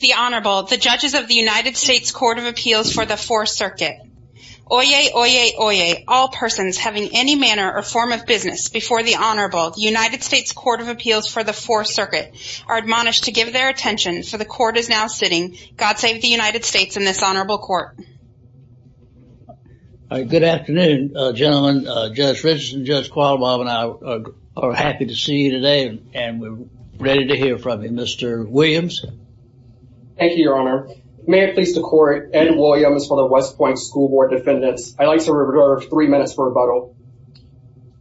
The Honorable the judges of the United States Court of Appeals for the Fourth Circuit. Oyez, oyez, oyez, all persons having any manner or form of business before the Honorable United States Court of Appeals for the Fourth Circuit are admonished to give their attention for the court is now sitting. God save the United States in this honorable court. Good afternoon gentlemen, Judge Richardson, Judge ready to hear from you, Mr. Williams. Thank you, Your Honor. May it please the court, Ed Williams for the West Point School Board defendants. I'd like to revert to three minutes for rebuttal.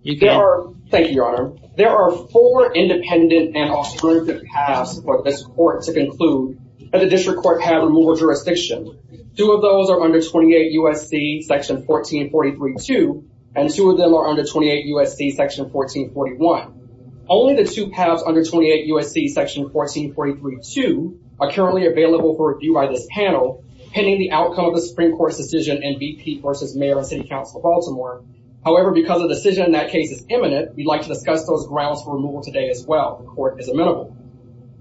You can. Thank you, Your Honor. There are four independent and authoritative paths for this court to conclude that the district court have removal jurisdiction. Two of those are under 28 U.S.C. section 1443-2 and two of them are under 28 U.S.C. section 1441. Only the two paths under 28 U.S.C. section 1443-2 are currently available for review by this panel pending the outcome of the Supreme Court's decision in BP versus Mayor and City Council of Baltimore. However, because the decision in that case is imminent, we'd like to discuss those grounds for removal today as well. The court is amenable.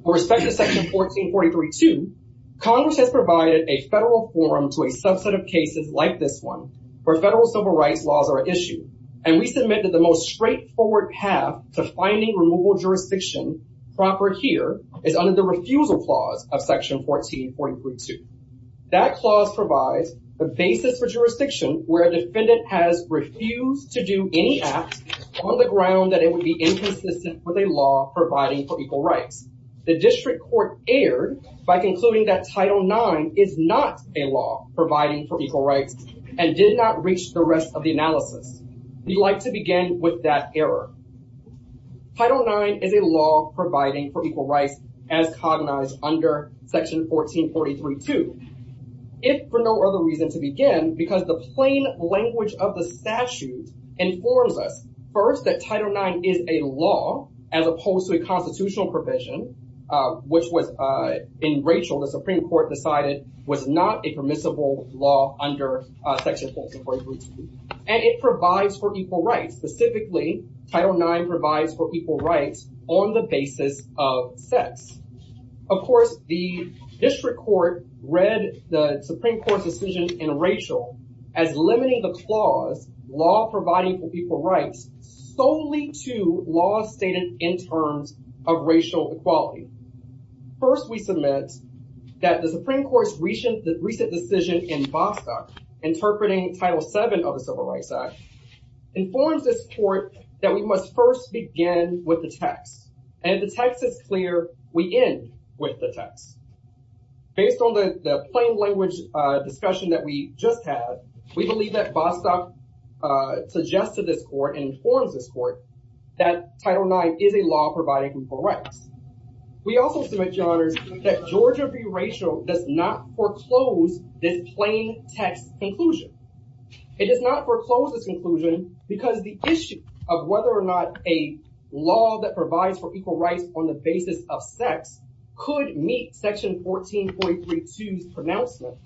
With respect to section 1443-2, Congress has provided a federal forum to a subset of cases like this one where federal civil rights laws are issued and we submit that the most straightforward path to finding removal jurisdiction proper here is under the refusal clause of section 1443-2. That clause provides the basis for jurisdiction where a defendant has refused to do any act on the ground that it would be inconsistent with a law providing for equal rights. The district court erred by concluding that Title IX is not a law providing for equal rights and did not reach the rest of the Title IX is a law providing for equal rights as cognized under section 1443-2. If for no other reason to begin, because the plain language of the statute informs us first that Title IX is a law as opposed to a constitutional provision which was in Rachel the Supreme Court decided was not a permissible law under section 1443-2 and it provides for equal rights on the basis of sex. Of course, the district court read the Supreme Court's decision in Rachel as limiting the clause law providing for equal rights solely to laws stated in terms of racial equality. First, we submit that the Supreme Court's recent decision in Vassa interpreting Title VII of the Civil Rights Act informs this court that we must first begin with the text and if the text is clear, we end with the text. Based on the plain language discussion that we just had, we believe that Vassa suggested this court and informs this court that Title IX is a law providing equal rights. We also submit, Your Honors, that Georgia v. Rachel does not foreclose this plain text conclusion. It does not foreclose this conclusion because the issue of whether or not a law that provides for equal rights on the basis of sex could meet section 1443-2's pronouncement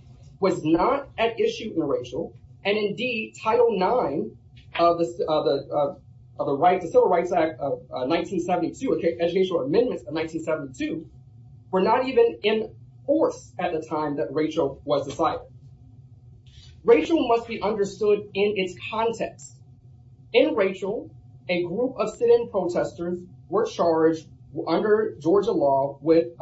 was not at issue in Rachel and indeed Title IX of the Civil Rights Act of 1972, educational amendments of 1972, were not even in force at the time that Rachel was decided. Rachel must be understood in its context. In Rachel, a group of sit-in protesters were charged under Georgia law with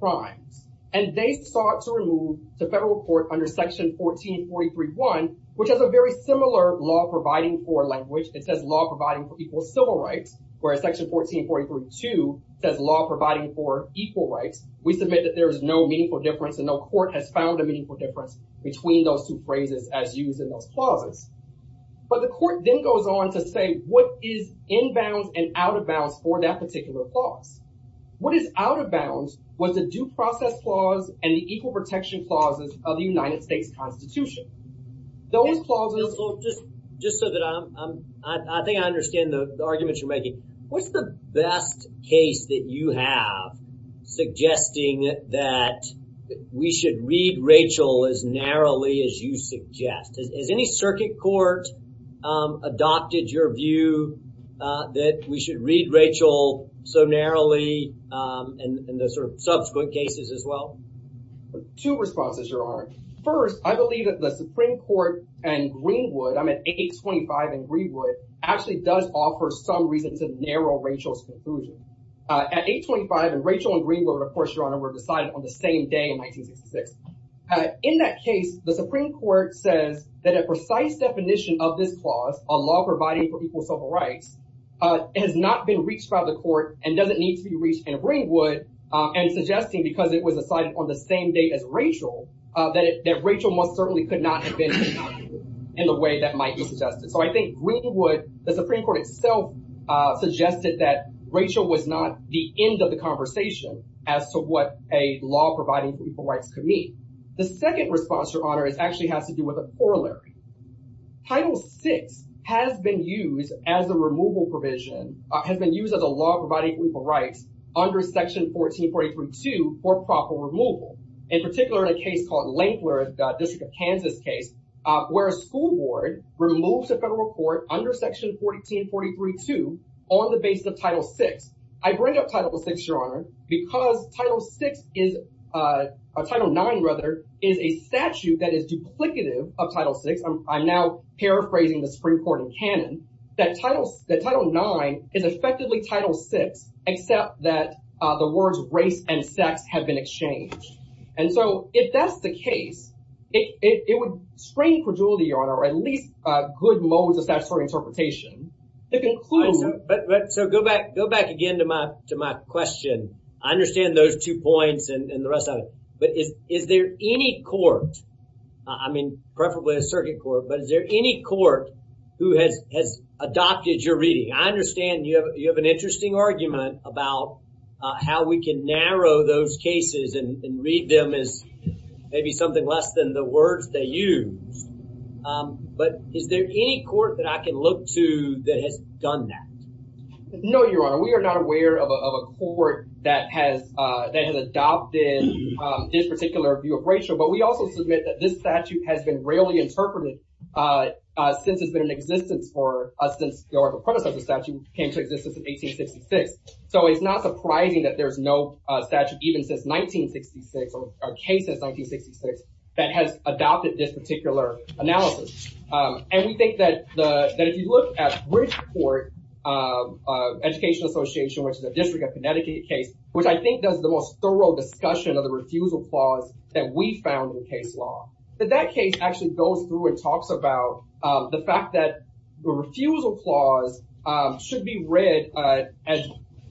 crimes and they sought to remove the federal court under section 1443-1, which has a very similar law providing for language. It says law providing for equal civil rights, whereas section 1443-2 says law providing for equal rights. We submit that there is no meaningful difference and no court has found a meaningful difference between those two phrases as used in those clauses. But the court then goes on to say what is inbounds and out-of-bounds for that particular clause. What is out-of-bounds was the due process clause and the equal protection clauses of the United States Constitution. Those clauses. Just so that I think I understand the arguments you're making, what's the best case that you have suggesting that we should read Rachel as narrowly as you suggest? Has any circuit court adopted your view that we should read Rachel so narrowly in the sort of subsequent cases as well? Two responses, Your Honor. First, I believe that the Supreme Court and Greenwood, I'm at 825 and Greenwood, actually does offer some reason to narrow Rachel's conclusion. At 825 and Rachel and Greenwood, of course, Your Honor, were decided on the same day in 1966. In that case, the Supreme Court says that a precise definition of this clause on law providing for equal civil rights has not been reached by the court and doesn't need to be reached in Greenwood and suggesting because it was decided on the same day as Rachel that Rachel most certainly could not have been in the way that might be suggested. So I think Greenwood, the Supreme Court itself suggested that Rachel was not the end of the conversation as to what a law providing equal rights could mean. The second response, Your Honor, actually has to do with a corollary. Title VI has been used as a removal provision, has been used as a law providing equal rights under Section 1443.2 for proper removal. In particular, in a case called under Section 1443.2 on the basis of Title VI. I bring up Title VI, Your Honor, because Title IX is a statute that is duplicative of Title VI. I'm now paraphrasing the Supreme Court in canon that Title IX is effectively Title VI except that the words race and sex have been exchanged. And so if that's the case, it would strain credulity, Your Honor, or at least good modes of statutory interpretation. So go back go back again to my to my question. I understand those two points and the rest of it. But is is there any court, I mean preferably a circuit court, but is there any court who has has adopted your reading? I understand you have you have an interesting argument about how we can narrow those cases and read them as maybe something less than the words they use. But is there any court that I can look to that has done that? No, Your Honor. We are not aware of a court that has that has adopted this particular view of racial. But we also submit that this statute has been rarely interpreted since it's been in existence for us since the predecessor statute came to existence in 1866. So it's not surprising that there's no statute even since 1966 or case since 1966 that has adopted this particular analysis. And we think that the that if you look at Bridgeport Education Association, which is a District of Connecticut case, which I think does the most thorough discussion of the refusal clause that we found in case law, that that case actually goes through and talks about the fact that the refusal clause should be read as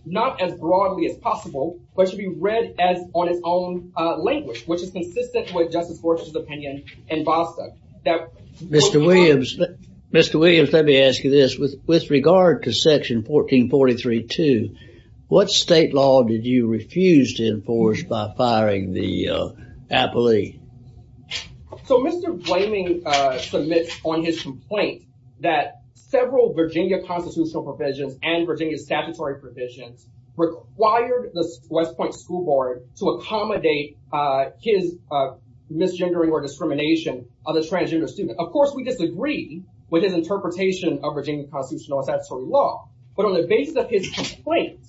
not as broadly as possible, but should be read as on its own language, which is consistent with Justice Gorsuch's opinion in Bostock. Mr. Williams, Mr. Williams, let me ask you this. With regard to section 1443-2, what state law did you refuse to enforce by firing the appellee? So Mr. Blaming submits on his complaint that several Virginia constitutional provisions and Virginia statutory provisions required the West Point School Board to accommodate his misgendering or discrimination of the transgender student. Of course, we disagree with his interpretation of Virginia constitutional and statutory law, but on the basis of his complaint,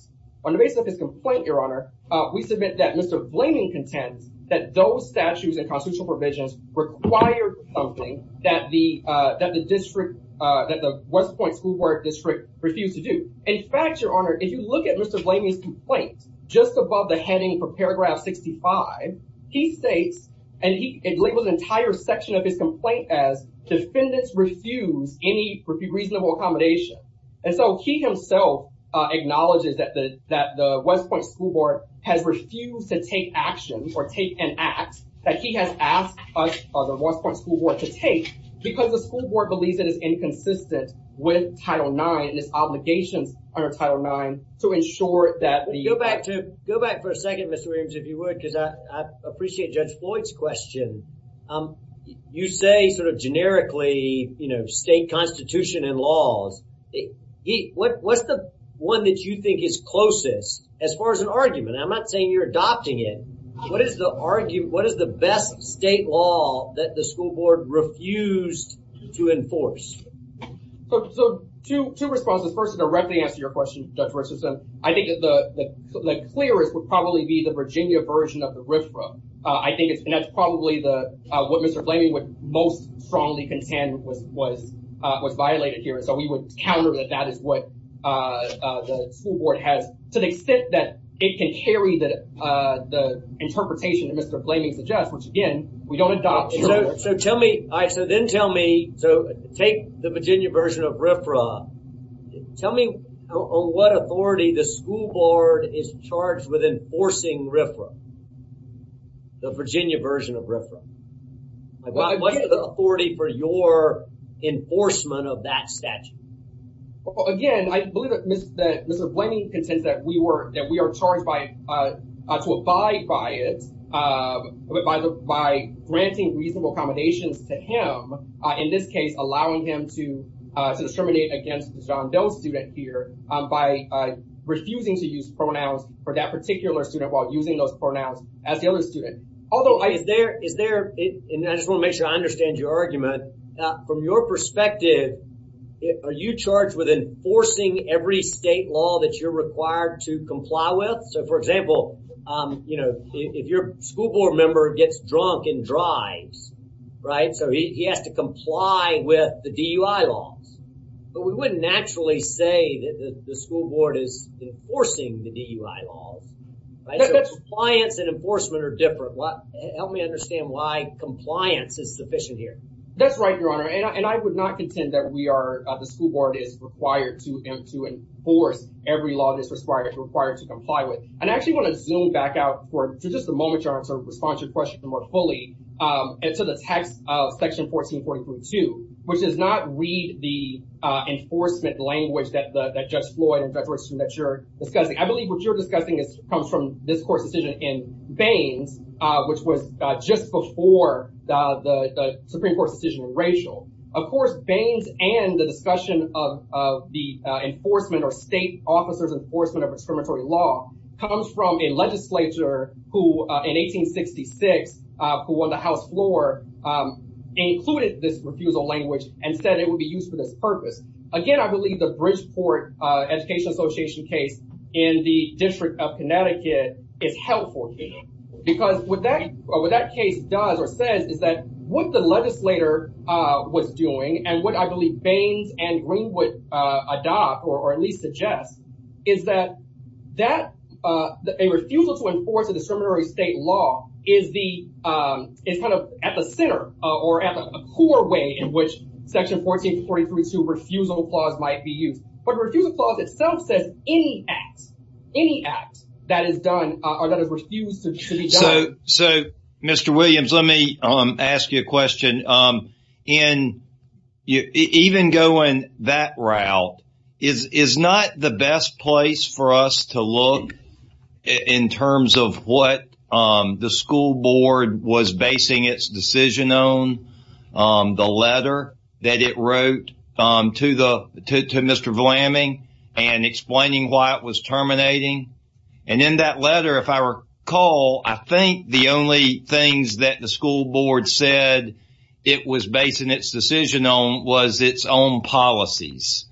on the basis of his complaint, Your Honor, we submit that Mr. Blaming contends that those statutes and constitutional provisions required something that the that the district that the West Point School Board district refused to do. In fact, Your Honor, if you look at Mr. Blaming's complaint, just above the heading for paragraph 65, he states and he labels entire section of his complaint as defendants refuse any reasonable accommodation. And so he himself acknowledges that the West Point School Board has refused to take action or take an act that he has asked us, the West Point School Board, to take because the school board believes it is inconsistent with Title IX and its obligations under Title IX to ensure that the... Go back to go back for a second, Mr. Williams, if you would, because I appreciate Judge Floyd's question. You say sort of generically, you know, state constitution and laws, what what's the one that you think is closest as far as an argument? I'm not saying you're adopting it. What is the argument, what is the best state law that the So, two responses. First, to directly answer your question, Judge Richardson, I think the clearest would probably be the Virginia version of the riffraff. I think it's probably the what Mr. Blaming would most strongly contend was violated here. So we would counter that that is what the school board has to the extent that it can carry that the interpretation that Mr. Blaming suggests, which again, we don't adopt. So tell me, so then tell me, so take the Virginia version of riffraff. Tell me on what authority the school board is charged with enforcing riffraff, the Virginia version of riffraff. What is the authority for your enforcement of that statute? Again, I believe that Mr. Blaming contends that we are charged by, to abide by it, by granting reasonable accommodations to him. In this case, allowing him to discriminate against John Doe's student here by refusing to use pronouns for that particular student while using those pronouns as the other student. Although, is there, is there, and I just want to make sure I understand your argument. From your perspective, are you required to comply with, so for example, you know, if your school board member gets drunk and drives, right, so he has to comply with the DUI laws, but we wouldn't naturally say that the school board is enforcing the DUI laws, right? Compliance and enforcement are different. Help me understand why compliance is sufficient here. That's right, your honor, and I would not contend that we are, the DUI law is required to comply with, and I actually want to zoom back out for just a moment, your honor, to respond to your question more fully, and to the text of section 14.42, which does not read the enforcement language that Judge Floyd and Judge Richardson that you're discussing. I believe what you're discussing comes from this court's decision in Baines, which was just before the Supreme Court's decision in Rachel. Of course, Baines and the discussion of the enforcement or state officers' enforcement of discriminatory law comes from a legislature who, in 1866, who won the House floor, included this refusal language and said it would be used for this purpose. Again, I believe the Bridgeport Education Association case in the District of Connecticut is helpful because what that case does or says is that what the legislator was suggesting is that a refusal to enforce a discriminatory state law is kind of at the center or at the core way in which section 14.43.2 refusal clause might be used. But the refusal clause itself says any act that is done or that is refused to be done. So, Mr. Williams, let me ask you a question. The school board, as we figure out, is not the best place for us to look in terms of what the school board was basing its decision on, the letter that it wrote to Mr. Vlaming and explaining why it was terminating. And in that letter, if I recall, I think the only things that the school board said it was basing its decision on was its own policies.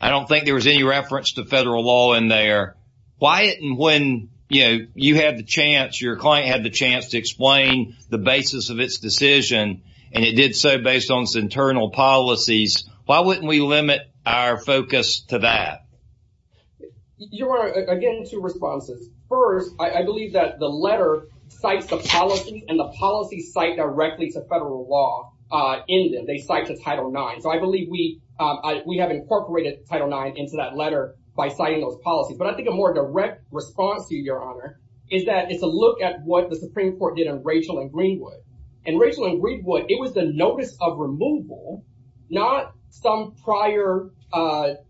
I don't think there was any reference to federal law in there. Why didn't when, you know, you had the chance, your client had the chance to explain the basis of its decision and it did so based on its internal policies, why wouldn't we limit our focus to that? Again, two responses. First, I believe that the letter cites the policy and the policies cite directly to we have incorporated Title IX into that letter by citing those policies. But I think a more direct response to you, Your Honor, is that it's a look at what the Supreme Court did on Rachel and Greenwood. And Rachel and Greenwood, it was the notice of removal, not some prior,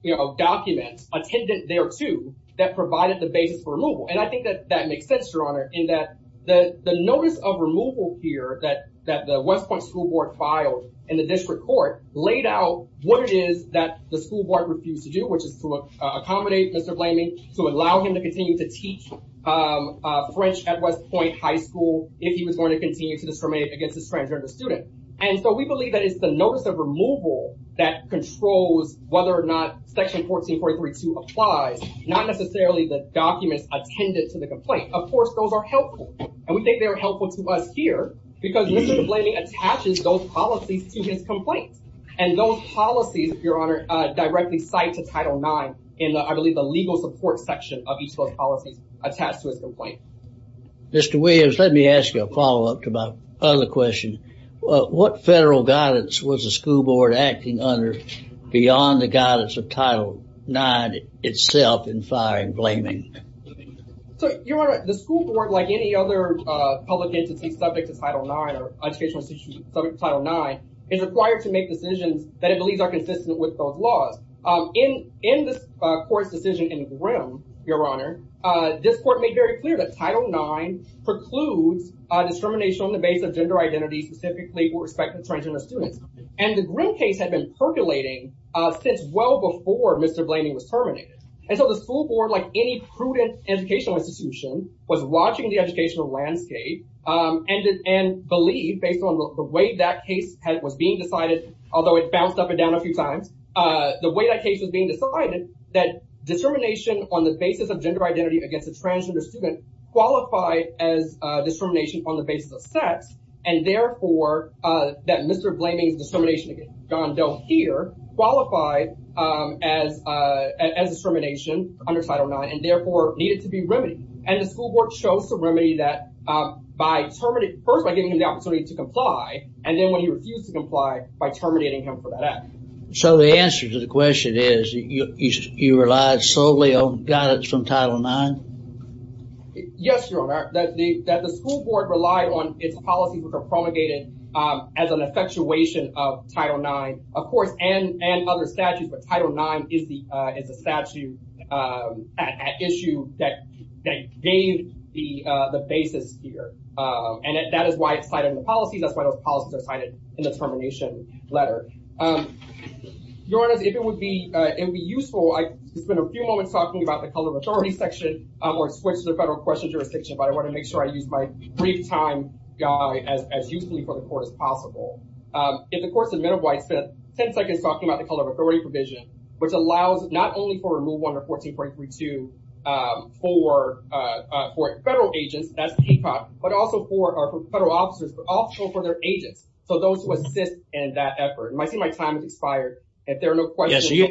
you know, documents attendant thereto that provided the basis for removal. And I think that that makes sense, Your Honor, in that the notice of removal here that the West Point School Board filed in the district court laid out what it is that the school board refused to do, which is to accommodate Mr. Blaming, to allow him to continue to teach French at West Point High School if he was going to continue to discriminate against a transgender student. And so we believe that it's the notice of removal that controls whether or not Section 1443-2 applies, not necessarily the documents attendant to the complaint. Of course, those are those policies to his complaint. And those policies, Your Honor, directly cite to Title IX in, I believe, the legal support section of each of those policies attached to his complaint. Mr. Williams, let me ask you a follow up to my other question. What federal guidance was the school board acting under beyond the guidance of Title IX itself in firing Blaming? So, Your Honor, the school board, like any other public entity subject to Title IX, is required to make decisions that it believes are consistent with both laws. In this court's decision in Grimm, Your Honor, this court made very clear that Title IX precludes discrimination on the basis of gender identity, specifically with respect to transgender students. And the Grimm case had been percolating since well before Mr. Blaming was terminated. And so the school board, like any prudent educational institution, was watching the educational landscape and believed, based on the way that case was being decided, although it bounced up and down a few times, the way that case was being decided, that determination on the basis of gender identity against a transgender student qualified as discrimination on the basis of sex and therefore that Mr. Blaming's discrimination against John Doe here qualified as discrimination under Title IX and therefore needed to be remedied. And the school board chose to remedy that by terminating, first by giving him the opportunity to comply, and then when he refused to comply, by terminating him for that act. So the answer to the question is you relied solely on guidance from Title IX? Yes, Your Honor, that the school board relied on its policies which are promulgated as an effectuation of Title IX, of course, and other statutes, but gave the basis here. And that is why it's cited in the policy. That's why those policies are cited in the termination letter. Your Honor, if it would be useful, I could spend a few moments talking about the color of authority section or switch to the federal question jurisdiction, but I want to make sure I use my brief time as usefully for the court as possible. If the court submitted why it spent 10 seconds talking about the color of authority provision, which allows not only for removal under 14.32 for federal agents, that's ACOP, but also for our federal officers, but also for their agents. So those who assist in that effort. I see my time has expired. If there are no questions... Yes,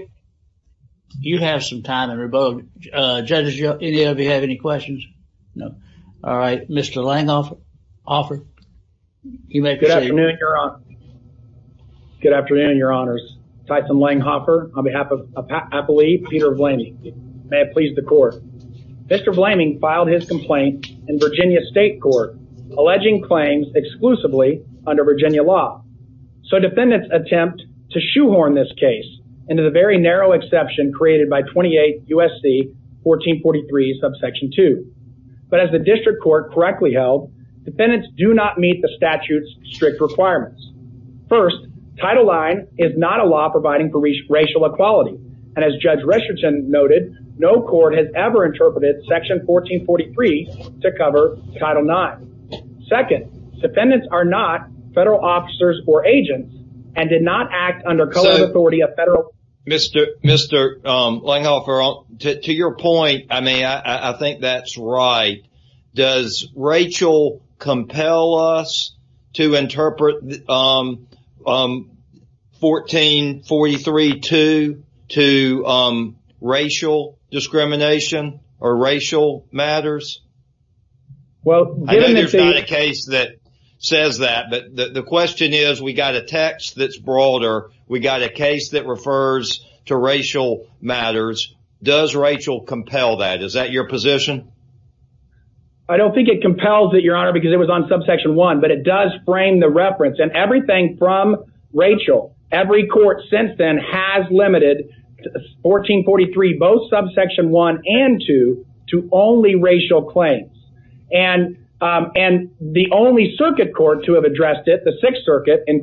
you have some time, and we're both... Judges, any of you have any questions? No. All right. Mr. Langhoffer, you may proceed. Good afternoon, Your Honor. Good afternoon, Your Honors. Tyson Langhoffer on behalf of Appellee Peter Vlaming. May it please the court. Mr. Vlaming filed his complaint in Virginia state court, alleging claims exclusively under Virginia law. So defendants attempt to shoehorn this case into the very narrow exception created by 28 USC 1443 subsection two, but as the district court correctly held, defendants do not meet the statute's strict requirements. First, Title IX is not a law providing for racial equality. And as Judge Richardson noted, no court has ever interpreted section 1443 to cover Title IX. Second, defendants are not federal officers or agents and did not act under color of authority of federal... Mr. Langhoffer, to your point, I mean, I think that's right. Does Rachel compel us to interpret 1443-2 to racial discrimination or racial matters? Well, given that... I know there's not a case that says that, but the question is, we got a text that's broader, we got a case that refers to racial matters. Does Rachel compel that? Is that your position? I don't think it compels it, Your Honor, because it was on subsection one, but it does frame the reference and everything from Rachel, every court since then has limited 1443, both subsection one and two, to only racial claims. And the only circuit court to have addressed it, the sixth circuit in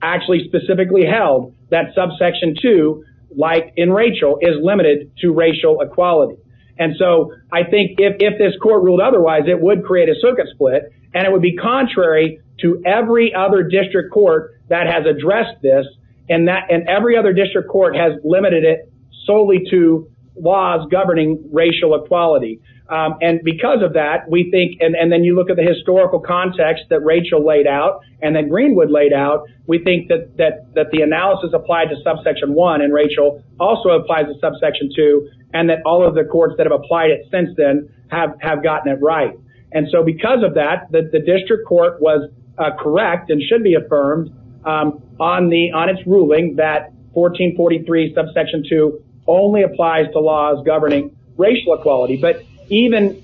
actually specifically held that subsection two, like in Rachel, is limited to racial equality. And so I think if this court ruled otherwise, it would create a circuit split and it would be contrary to every other district court that has addressed this and every other district court has limited it solely to laws governing racial equality. And because of that, we think, and then you look at the historical context that Rachel laid out and then Greenwood laid out, we think that the analysis applied to subsection one in Rachel also applies to subsection two and that all of the courts that have applied it since then have gotten it right. And so because of that, the district court was correct and should be affirmed on its ruling that 1443 subsection two only applies to laws governing racial equality. But even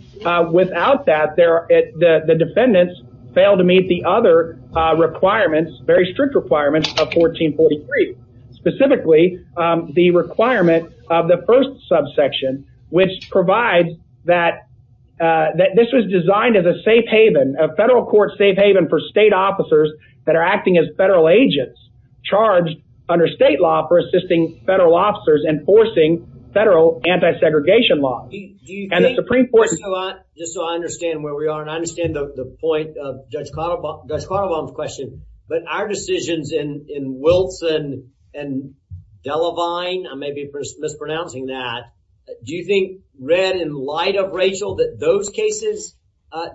without that, the defendants failed to meet the other requirements, very strict requirements of 1443, specifically the requirement of the first subsection, which provides that that this was designed as a safe haven, a federal court safe haven for state officers that are acting as federal agents charged under state law for assisting federal officers enforcing federal anti-segregation law. Do you think, just so I understand where we are and I understand the higher decisions in Wilson and Delavine, I may be mispronouncing that. Do you think, Red, in light of Rachel, that those cases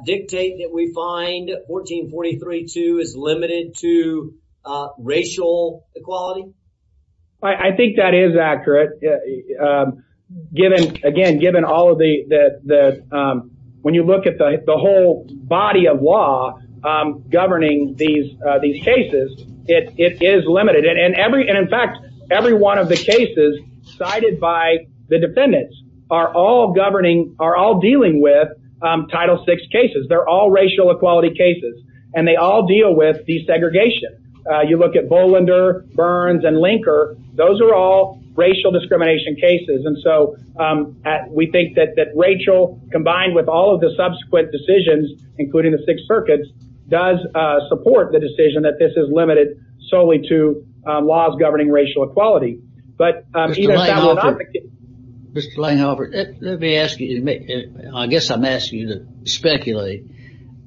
dictate that we find 1443.2 is limited to racial equality? I think that is accurate, given, again, given all of the, when you look at the whole body of law governing these cases, it is limited and in fact, every one of the cases cited by the defendants are all governing, are all dealing with title six cases, they're all racial equality cases, and they all deal with desegregation. You look at Bollender, Burns and Linker, those are all racial discrimination cases. And so we think that Rachel, combined with all of the subsequent decisions, including the Sixth Circuit, does support the decision that this is limited solely to laws governing racial equality. But either side would advocate. Mr. Lanehofer, let me ask you, I guess I'm asking you to speculate,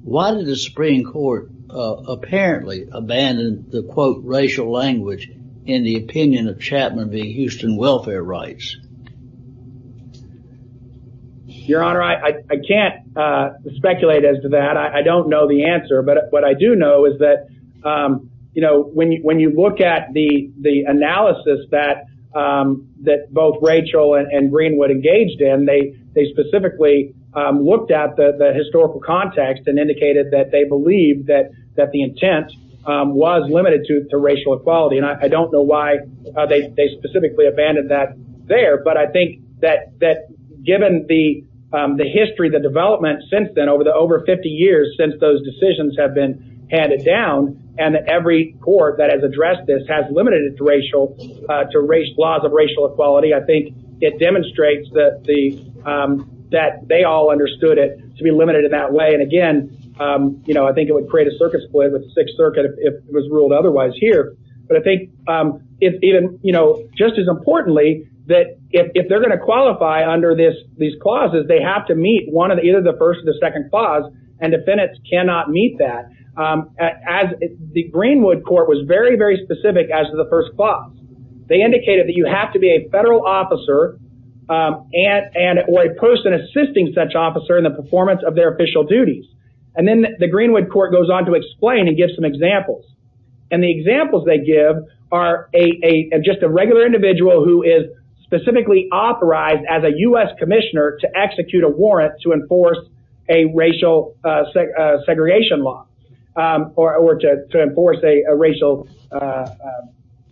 why did the Supreme Court apparently abandon the quote racial language in the opinion of Chapman being Houston welfare rights? Your Honor, I can't speculate as to that. I don't know the answer, but what I do know is that, you know, when you look at the analysis that both Rachel and Greenwood engaged in, they specifically looked at the historical context and indicated that they believe that the intent was limited to racial equality. And I don't know why they specifically abandoned that there. But I think that given the history, the development since then over the over 50 years, since those decisions have been handed down and every court that has addressed this has limited it to racial, to laws of racial equality. I think it demonstrates that the, that they all understood it to be limited in that way. And again, you know, I think it would create a circuit split with the Sixth Circuit if it was ruled otherwise here. But I think if even, you know, just as importantly that if they're going to qualify under this, these clauses, they have to meet one of the, either the first or the second clause and defendants cannot meet that as the Greenwood court was very, very specific as to the first clause, they indicated that you have to be a federal officer and, or a person assisting such officer in the performance of their official duties, and then the Greenwood court goes on to explain and give some examples. And the examples they give are a, just a regular individual who is specifically authorized as a U.S. commissioner to execute a warrant, to enforce a racial segregation law. Or to enforce a racial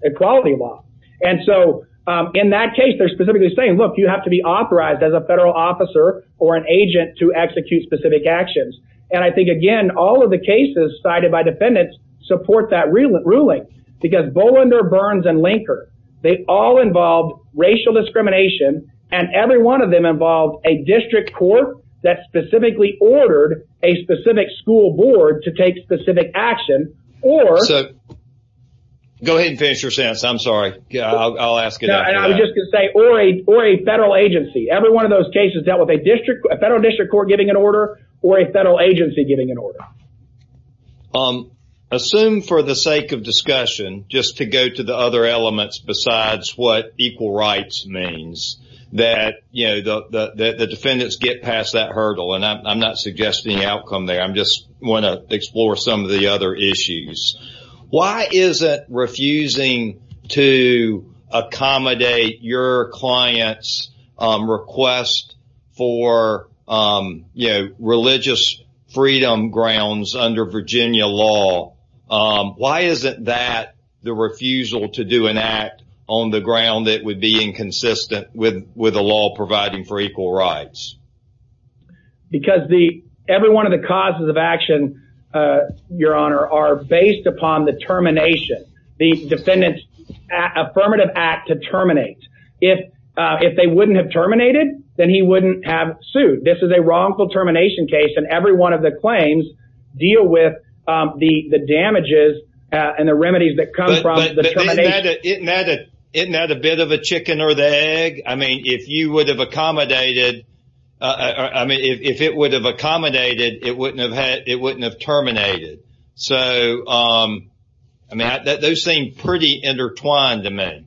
equality law. And so in that case, they're specifically saying, look, you have to be authorized as a federal officer or an agent to execute specific actions. And I think, again, all of the cases cited by defendants support that ruling because Bolander, Burns and Linker, they all involved racial discrimination and every one of them involved a district court that specifically ordered a specific school board to take specific action. Or- So go ahead and finish your sentence. I'm sorry. I'll ask it after that. I was just going to say, or a federal agency. Every one of those cases dealt with a district, a federal district court giving an order or a federal agency giving an order. Assume for the sake of discussion, just to go to the other elements besides what equal rights means that, you know, the defendants get past that hurdle. And I'm not suggesting outcome there. I'm just want to explore some of the other issues. Why is it refusing to accommodate your client's request for, you know, religious freedom grounds under Virginia law? Why isn't that the refusal to do an act on the ground that would be inconsistent with, with a law providing for equal rights? Because the, every one of the causes of action, your honor, are based upon the termination, the defendant's affirmative act to terminate. If, if they wouldn't have terminated, then he wouldn't have sued. This is a wrongful termination case. And every one of the claims deal with the damages and the remedies that come from the termination. But isn't that a bit of a chicken or the egg? I mean, if you would have accommodated, I mean, if it would have accommodated, it wouldn't have had, it wouldn't have terminated. So, I mean, those seem pretty intertwined to me.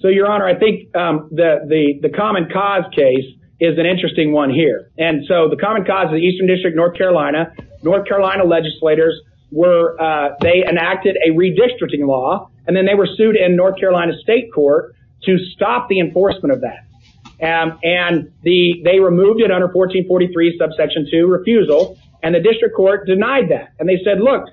So your honor, I think that the common cause case is an interesting one here. And so the common cause of the Eastern district, North Carolina, North Carolina legislators were, they enacted a redistricting law and then they were sued in North Carolina state court to stop the enforcement of that. And, and the, they removed it under 1443 subsection two refusal and the district court denied that. And they said, look,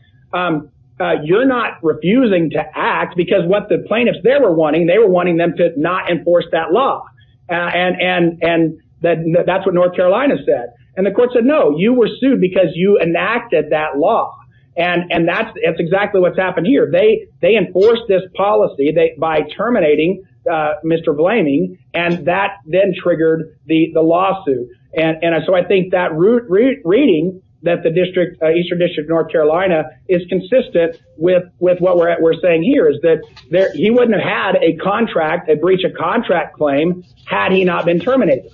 you're not refusing to act because what the plaintiffs there were wanting, they were wanting them to not enforce that law. And, and, and that that's what North Carolina said. And the court said, no, you were sued because you enacted that law. And, and that's, that's exactly what's happened here. They, they enforced this policy by terminating Mr. Blamey and that then triggered the, the lawsuit. And so I think that route reading that the district, Eastern district, North Carolina is consistent with, with what we're at, we're saying here is that he wouldn't have had a contract, a breach of contract claim had he not been terminated,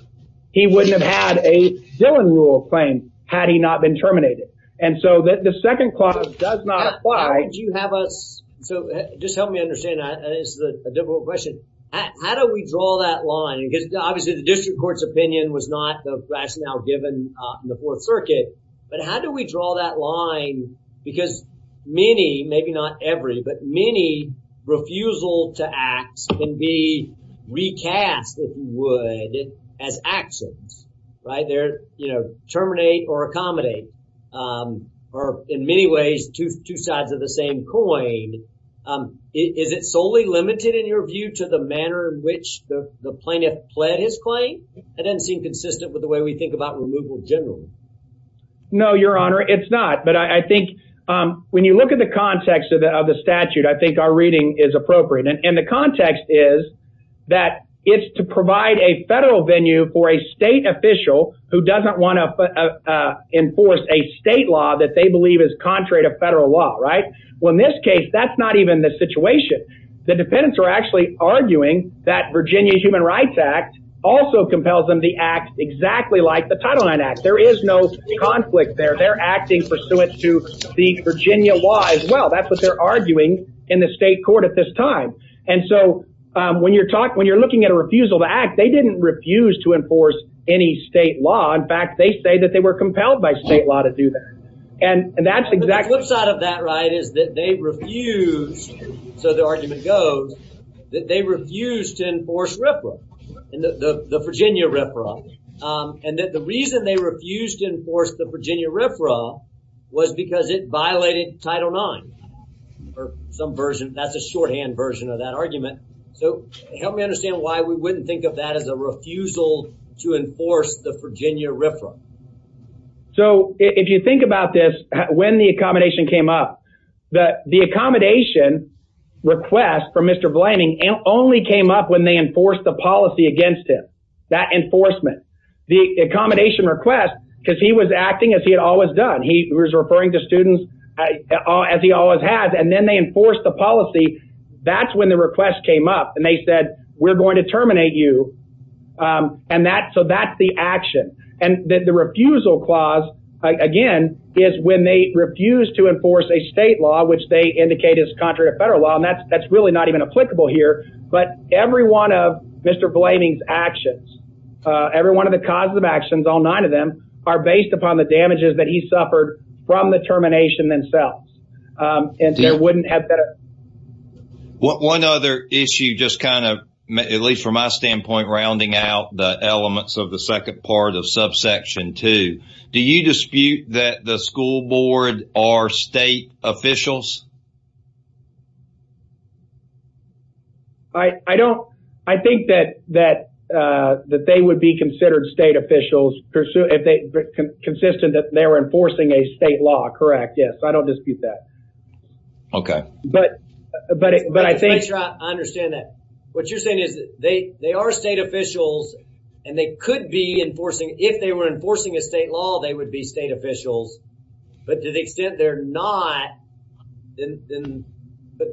he wouldn't have had a Dillon rule claim had he not been terminated. And so the second clause does not apply. Why did you have us, so just help me understand, this is a difficult question. How do we draw that line? Because obviously the district court's opinion was not the rationale given in the fourth circuit. But how do we draw that line? Because many, maybe not every, but many refusal to acts can be recast, if you would, as actions, right there, you know, terminate or accommodate, or in many ways, two sides of the same coin, is it solely limited in your view to the manner in which the plaintiff pled his claim? It doesn't seem consistent with the way we think about removal generally. No, your honor, it's not. But I think when you look at the context of the statute, I think our reading is appropriate. And the context is that it's to provide a federal venue for a state official who doesn't want to enforce a state law that they believe is contrary to federal law. Right? Well, in this case, that's not even the situation. The defendants are actually arguing that Virginia Human Rights Act also compels them to act exactly like the Title IX Act. There is no conflict there. They're acting pursuant to the Virginia law as well. That's what they're arguing in the state court at this time. And so when you're talking, when you're looking at a refusal to act, they didn't refuse to enforce any state law. In fact, they say that they were compelled by state law to do that. And that's exactly. The flip side of that, right, is that they refused. So the argument goes that they refused to enforce RFRA, the Virginia RFRA. And the reason they refused to enforce the Virginia RFRA was because it violated Title IX or some version. That's a shorthand version of that argument. So help me understand why we wouldn't think of that as a refusal to enforce the Virginia RFRA. So if you think about this, when the accommodation came up, the accommodation request from Mr. Blanding only came up when they enforced the policy against him, that enforcement. The accommodation request, because he was acting as he had always done. He was referring to students as he always has. And then they enforced the policy. That's when the request came up and they said, we're going to terminate you. And that, so that's the action. And the refusal clause, again, is when they refuse to enforce a state law, which they indicate is contrary to federal law. And that's, that's really not even applicable here, but every one of Mr. Blanding's actions, every one of the causes of actions, all nine of them are based upon the damages that he suffered from the termination themselves. And there wouldn't have been a... One other issue, just kind of, at least from my standpoint, rounding out the elements of the second part of subsection two, do you dispute that the school board are state officials? I don't, I think that, that, that they would be considered state officials pursuant, if they, consistent that they were enforcing a state law, correct? Yes. I don't dispute that. Okay. But, but, but I think... Just to make sure I understand that, what you're saying is that they, they are state officials and they could be enforcing, if they were enforcing a state law, they would be state officials. But to the extent they're not, then, then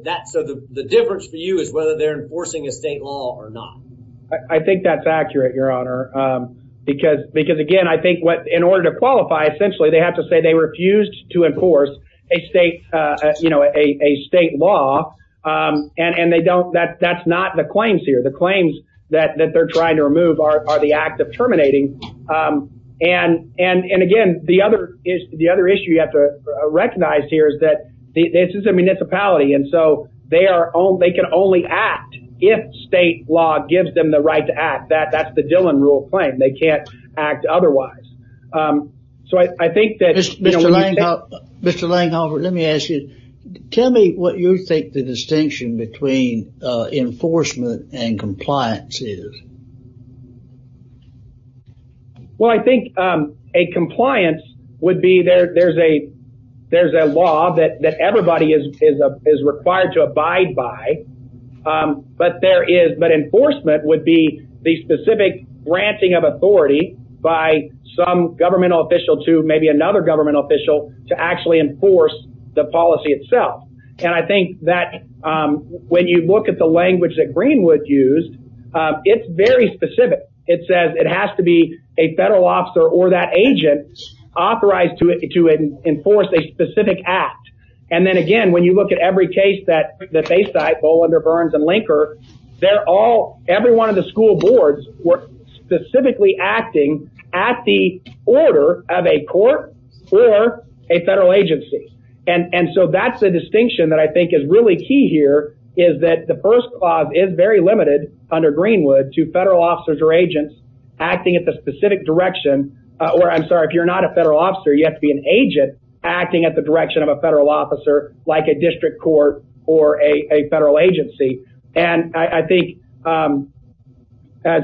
that, so the, the difference for you is whether they're enforcing a state law or not. I think that's accurate, your honor. Because, because again, I think what, in order to qualify, essentially they have to say they refused to enforce a state, you know, a, a state law, and, and they don't, that, that's not the claims here. The claims that, that they're trying to remove are, are the act of terminating. And, and, and again, the other issue, the other issue you have to recognize here is that this is a municipality. And so they are, they can only act if state law gives them the right to act. That, that's the Dillon rule of claim. They can't act otherwise. So I, I think that... Langhoff, Mr. Langhoff, let me ask you, tell me what you think the distinction between enforcement and compliance is. Well, I think a compliance would be there, there's a, there's a law that, that everybody is, is, is required to abide by. But there is, but enforcement would be the specific branching of some governmental official to maybe another governmental official to actually enforce the policy itself. And I think that when you look at the language that Greenwood used, it's very specific, it says it has to be a federal officer or that agent authorized to, to enforce a specific act. And then again, when you look at every case that, that they cite, Bowlander, Burns, and Linker, they're all, every one of the school boards were specifically acting at the order of a court or a federal agency. And, and so that's the distinction that I think is really key here is that the first clause is very limited under Greenwood to federal officers or agents acting at the specific direction, or I'm sorry, if you're not a federal officer, you have to be an agent acting at the direction of a federal officer, like a district court or a federal agency. And I think as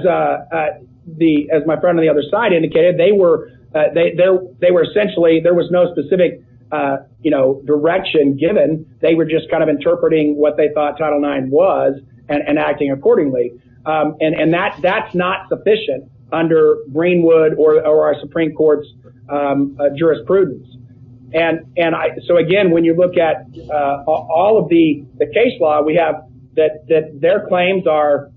the, as my friend on the other side indicated, they were, they, they were essentially, there was no specific, you know, direction given. They were just kind of interpreting what they thought Title IX was and acting accordingly. And, and that's, that's not sufficient under Greenwood or our Supreme Court's jurisprudence. And, and I, so again, when you look at all of the case law, we have that, that their claims are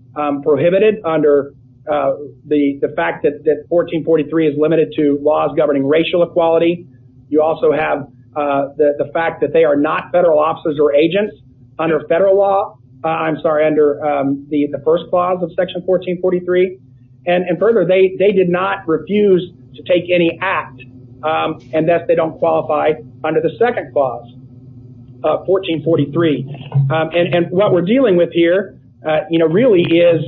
prohibited under the fact that 1443 is limited to laws governing racial equality. You also have the fact that they are not federal officers or agents under federal law. I'm sorry, under the first clause of section 1443. And further, they, they did not refuse to take any act and thus they don't qualify under the second clause of 1443. And what we're dealing with here, you know, really is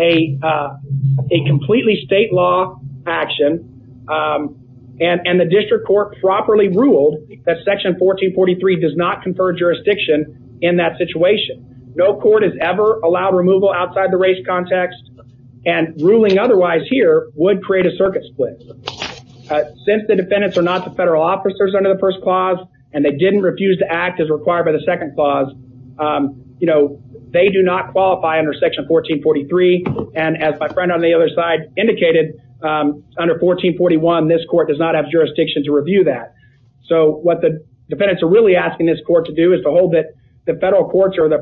a, a completely state law action and the district court properly ruled that section 1443 does not confer jurisdiction in that situation. No court has ever allowed removal outside the race context and ruling otherwise here would create a circuit split. Since the defendants are not the federal officers under the first clause and they didn't refuse to act as required by the second clause, you know, they do not qualify under section 1443 and as my friend on the other side indicated, under 1441, this court does not have jurisdiction to review that. So what the defendants are really asking this court to do is to hold that the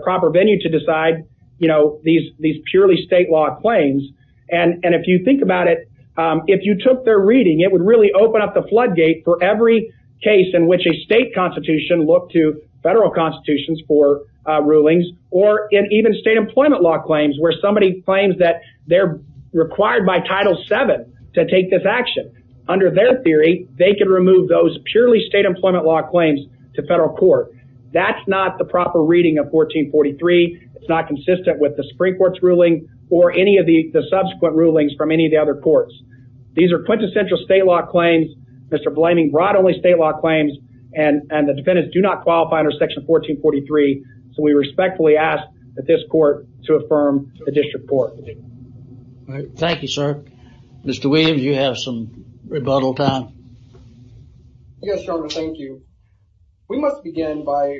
proper venue to decide, you know, these, these purely state law claims. And if you think about it if you took their reading, it would really open up the floodgate for every case in which a state constitution looked to federal constitutions for rulings or in even state employment law claims, where somebody claims that they're required by title seven to take this action. Under their theory, they can remove those purely state employment law claims to federal court. That's not the proper reading of 1443. It's not consistent with the Supreme Court's ruling or any of the subsequent rulings from any of the other courts. These are quintessential state law claims. Mr. Blamey brought only state law claims and the defendants do not qualify under section 1443. So we respectfully ask that this court to affirm the district court. Thank you, sir. Mr. Williams, you have some rebuttal time. Yes, Your Honor. Thank you. We must begin by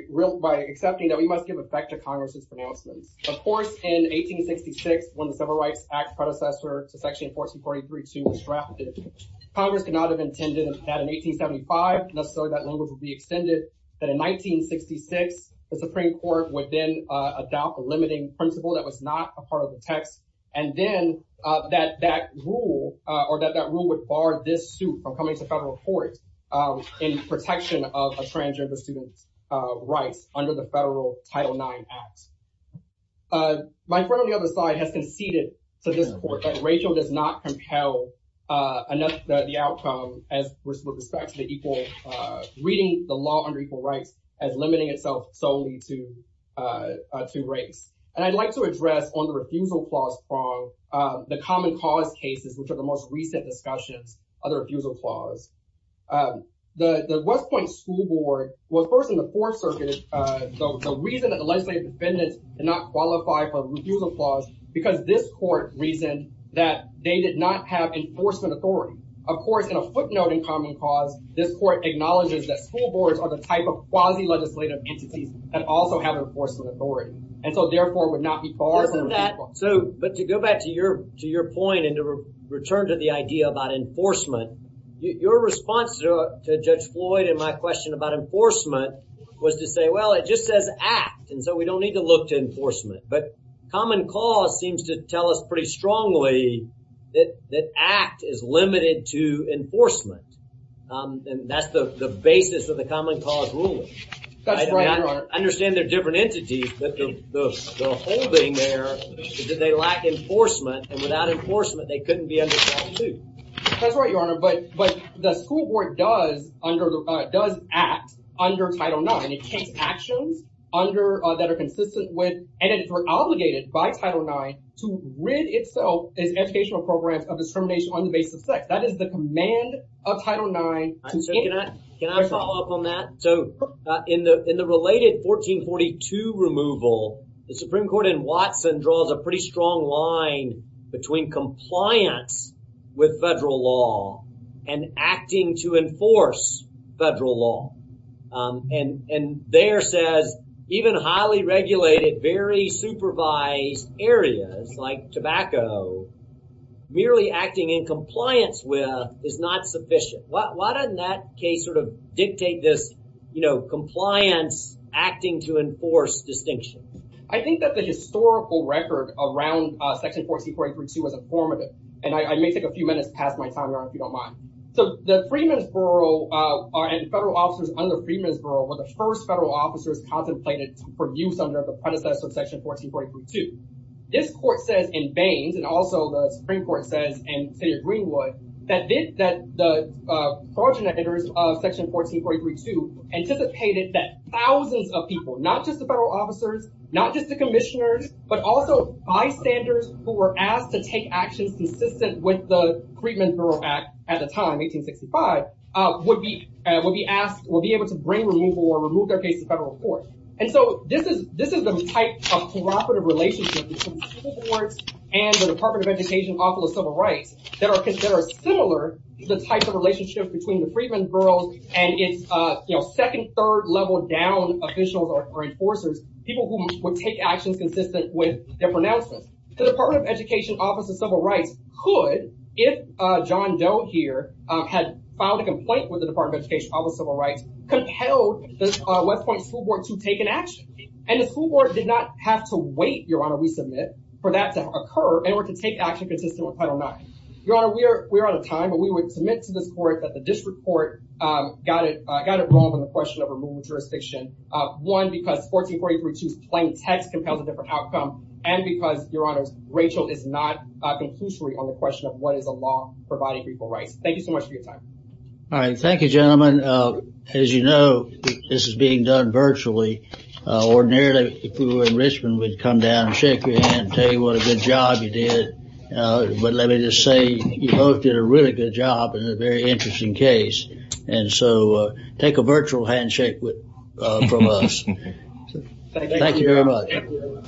accepting that we must give effect to Congress's announcements. Of course, in 1866, when the Civil Rights Act predecessor to section 1443.2 was drafted, Congress could not have intended that in 1875, necessarily that language would be extended, that in 1966, the Supreme Court would then adopt a limiting principle that was not a part of the text. And then that rule would bar this suit from coming to federal court in protection of a transgender student's rights under the federal Title IX Act. My friend on the other side has conceded to this court that Rachel does not compel the outcome as with respect to the equal, reading the law under equal rights as limiting itself solely to race. And I'd like to address on the refusal clause from the common cause cases, which are the most recent discussions of the refusal clause. The West Point school board was first in the fourth circuit. So the reason that the legislative defendants did not qualify for the refusal clause, because this court reasoned that they did not have enforcement authority. Of course, in a footnote in common cause, this court acknowledges that school boards are the type of quasi legislative entities that also have enforcement authority and so therefore would not be barred. Listen to that. So, but to go back to your, to your point and to return to the idea about enforcement, your response to Judge Floyd and my question about enforcement was to say, well, it just says act. And so we don't need to look to enforcement, but common cause seems to tell us pretty strongly that, that act is limited to enforcement and that's the basis of the common cause ruling. I understand they're different entities, but the whole thing there is that they lack enforcement and without enforcement, they couldn't be under trial too. That's right, Your Honor. But, but the school board does under, does act under Title IX. And it takes actions under, that are consistent with, and that are obligated by Title IX to rid itself as educational programs of discrimination on the basis of sex, that is the command of Title IX. Can I follow up on that? So in the, in the related 1442 removal, the Supreme Court in Watson draws a And, and there says even highly regulated, very supervised areas like tobacco, merely acting in compliance with is not sufficient. Why, why doesn't that case sort of dictate this, you know, compliance acting to enforce distinction? I think that the historical record around section 1442 was a formative. And I may take a few minutes past my time, Your Honor, if you don't mind. So the Freedmen's Borough are, and federal officers under Freedmen's Borough were the first federal officers contemplated for use under the predecessor of section 1443-2. This court says in Baines, and also the Supreme Court says in the city of Greenwood, that this, that the progenitors of section 1443-2 anticipated that thousands of people, not just the federal officers, not just the with the Freedmen's Borough Act at the time, 1865, would be, would be asked, will be able to bring removal or remove their case to federal court. And so this is, this is the type of cooperative relationship between the Supreme Court and the Department of Education Office of Civil Rights that are, that are similar to the type of relationship between the Freedmen's Borough and its, you know, second, third level down officials or enforcers, people who would take actions consistent with their pronouncements. The Department of Education Office of Civil Rights could, if John Doe here had filed a complaint with the Department of Education Office of Civil Rights, compelled the West Point School Board to take an action. And the school board did not have to wait, Your Honor, we submit, for that to occur, in order to take action consistent with Title IX. Your Honor, we're, we're out of time, but we would submit to this court that the district court got it, got it wrong on the question of removal of jurisdiction. One, because 1443-2's plain text compels a different outcome. And because, Your Honor, Rachel is not conclusory on the question of what is a law providing people rights. Thank you so much for your time. All right. Thank you, gentlemen. As you know, this is being done virtually. Ordinarily, if we were in Richmond, we'd come down and shake your hand and tell you what a good job you did. But let me just say, you both did a really good job in a very interesting case. And so, take a virtual handshake with, from us. Thank you very much.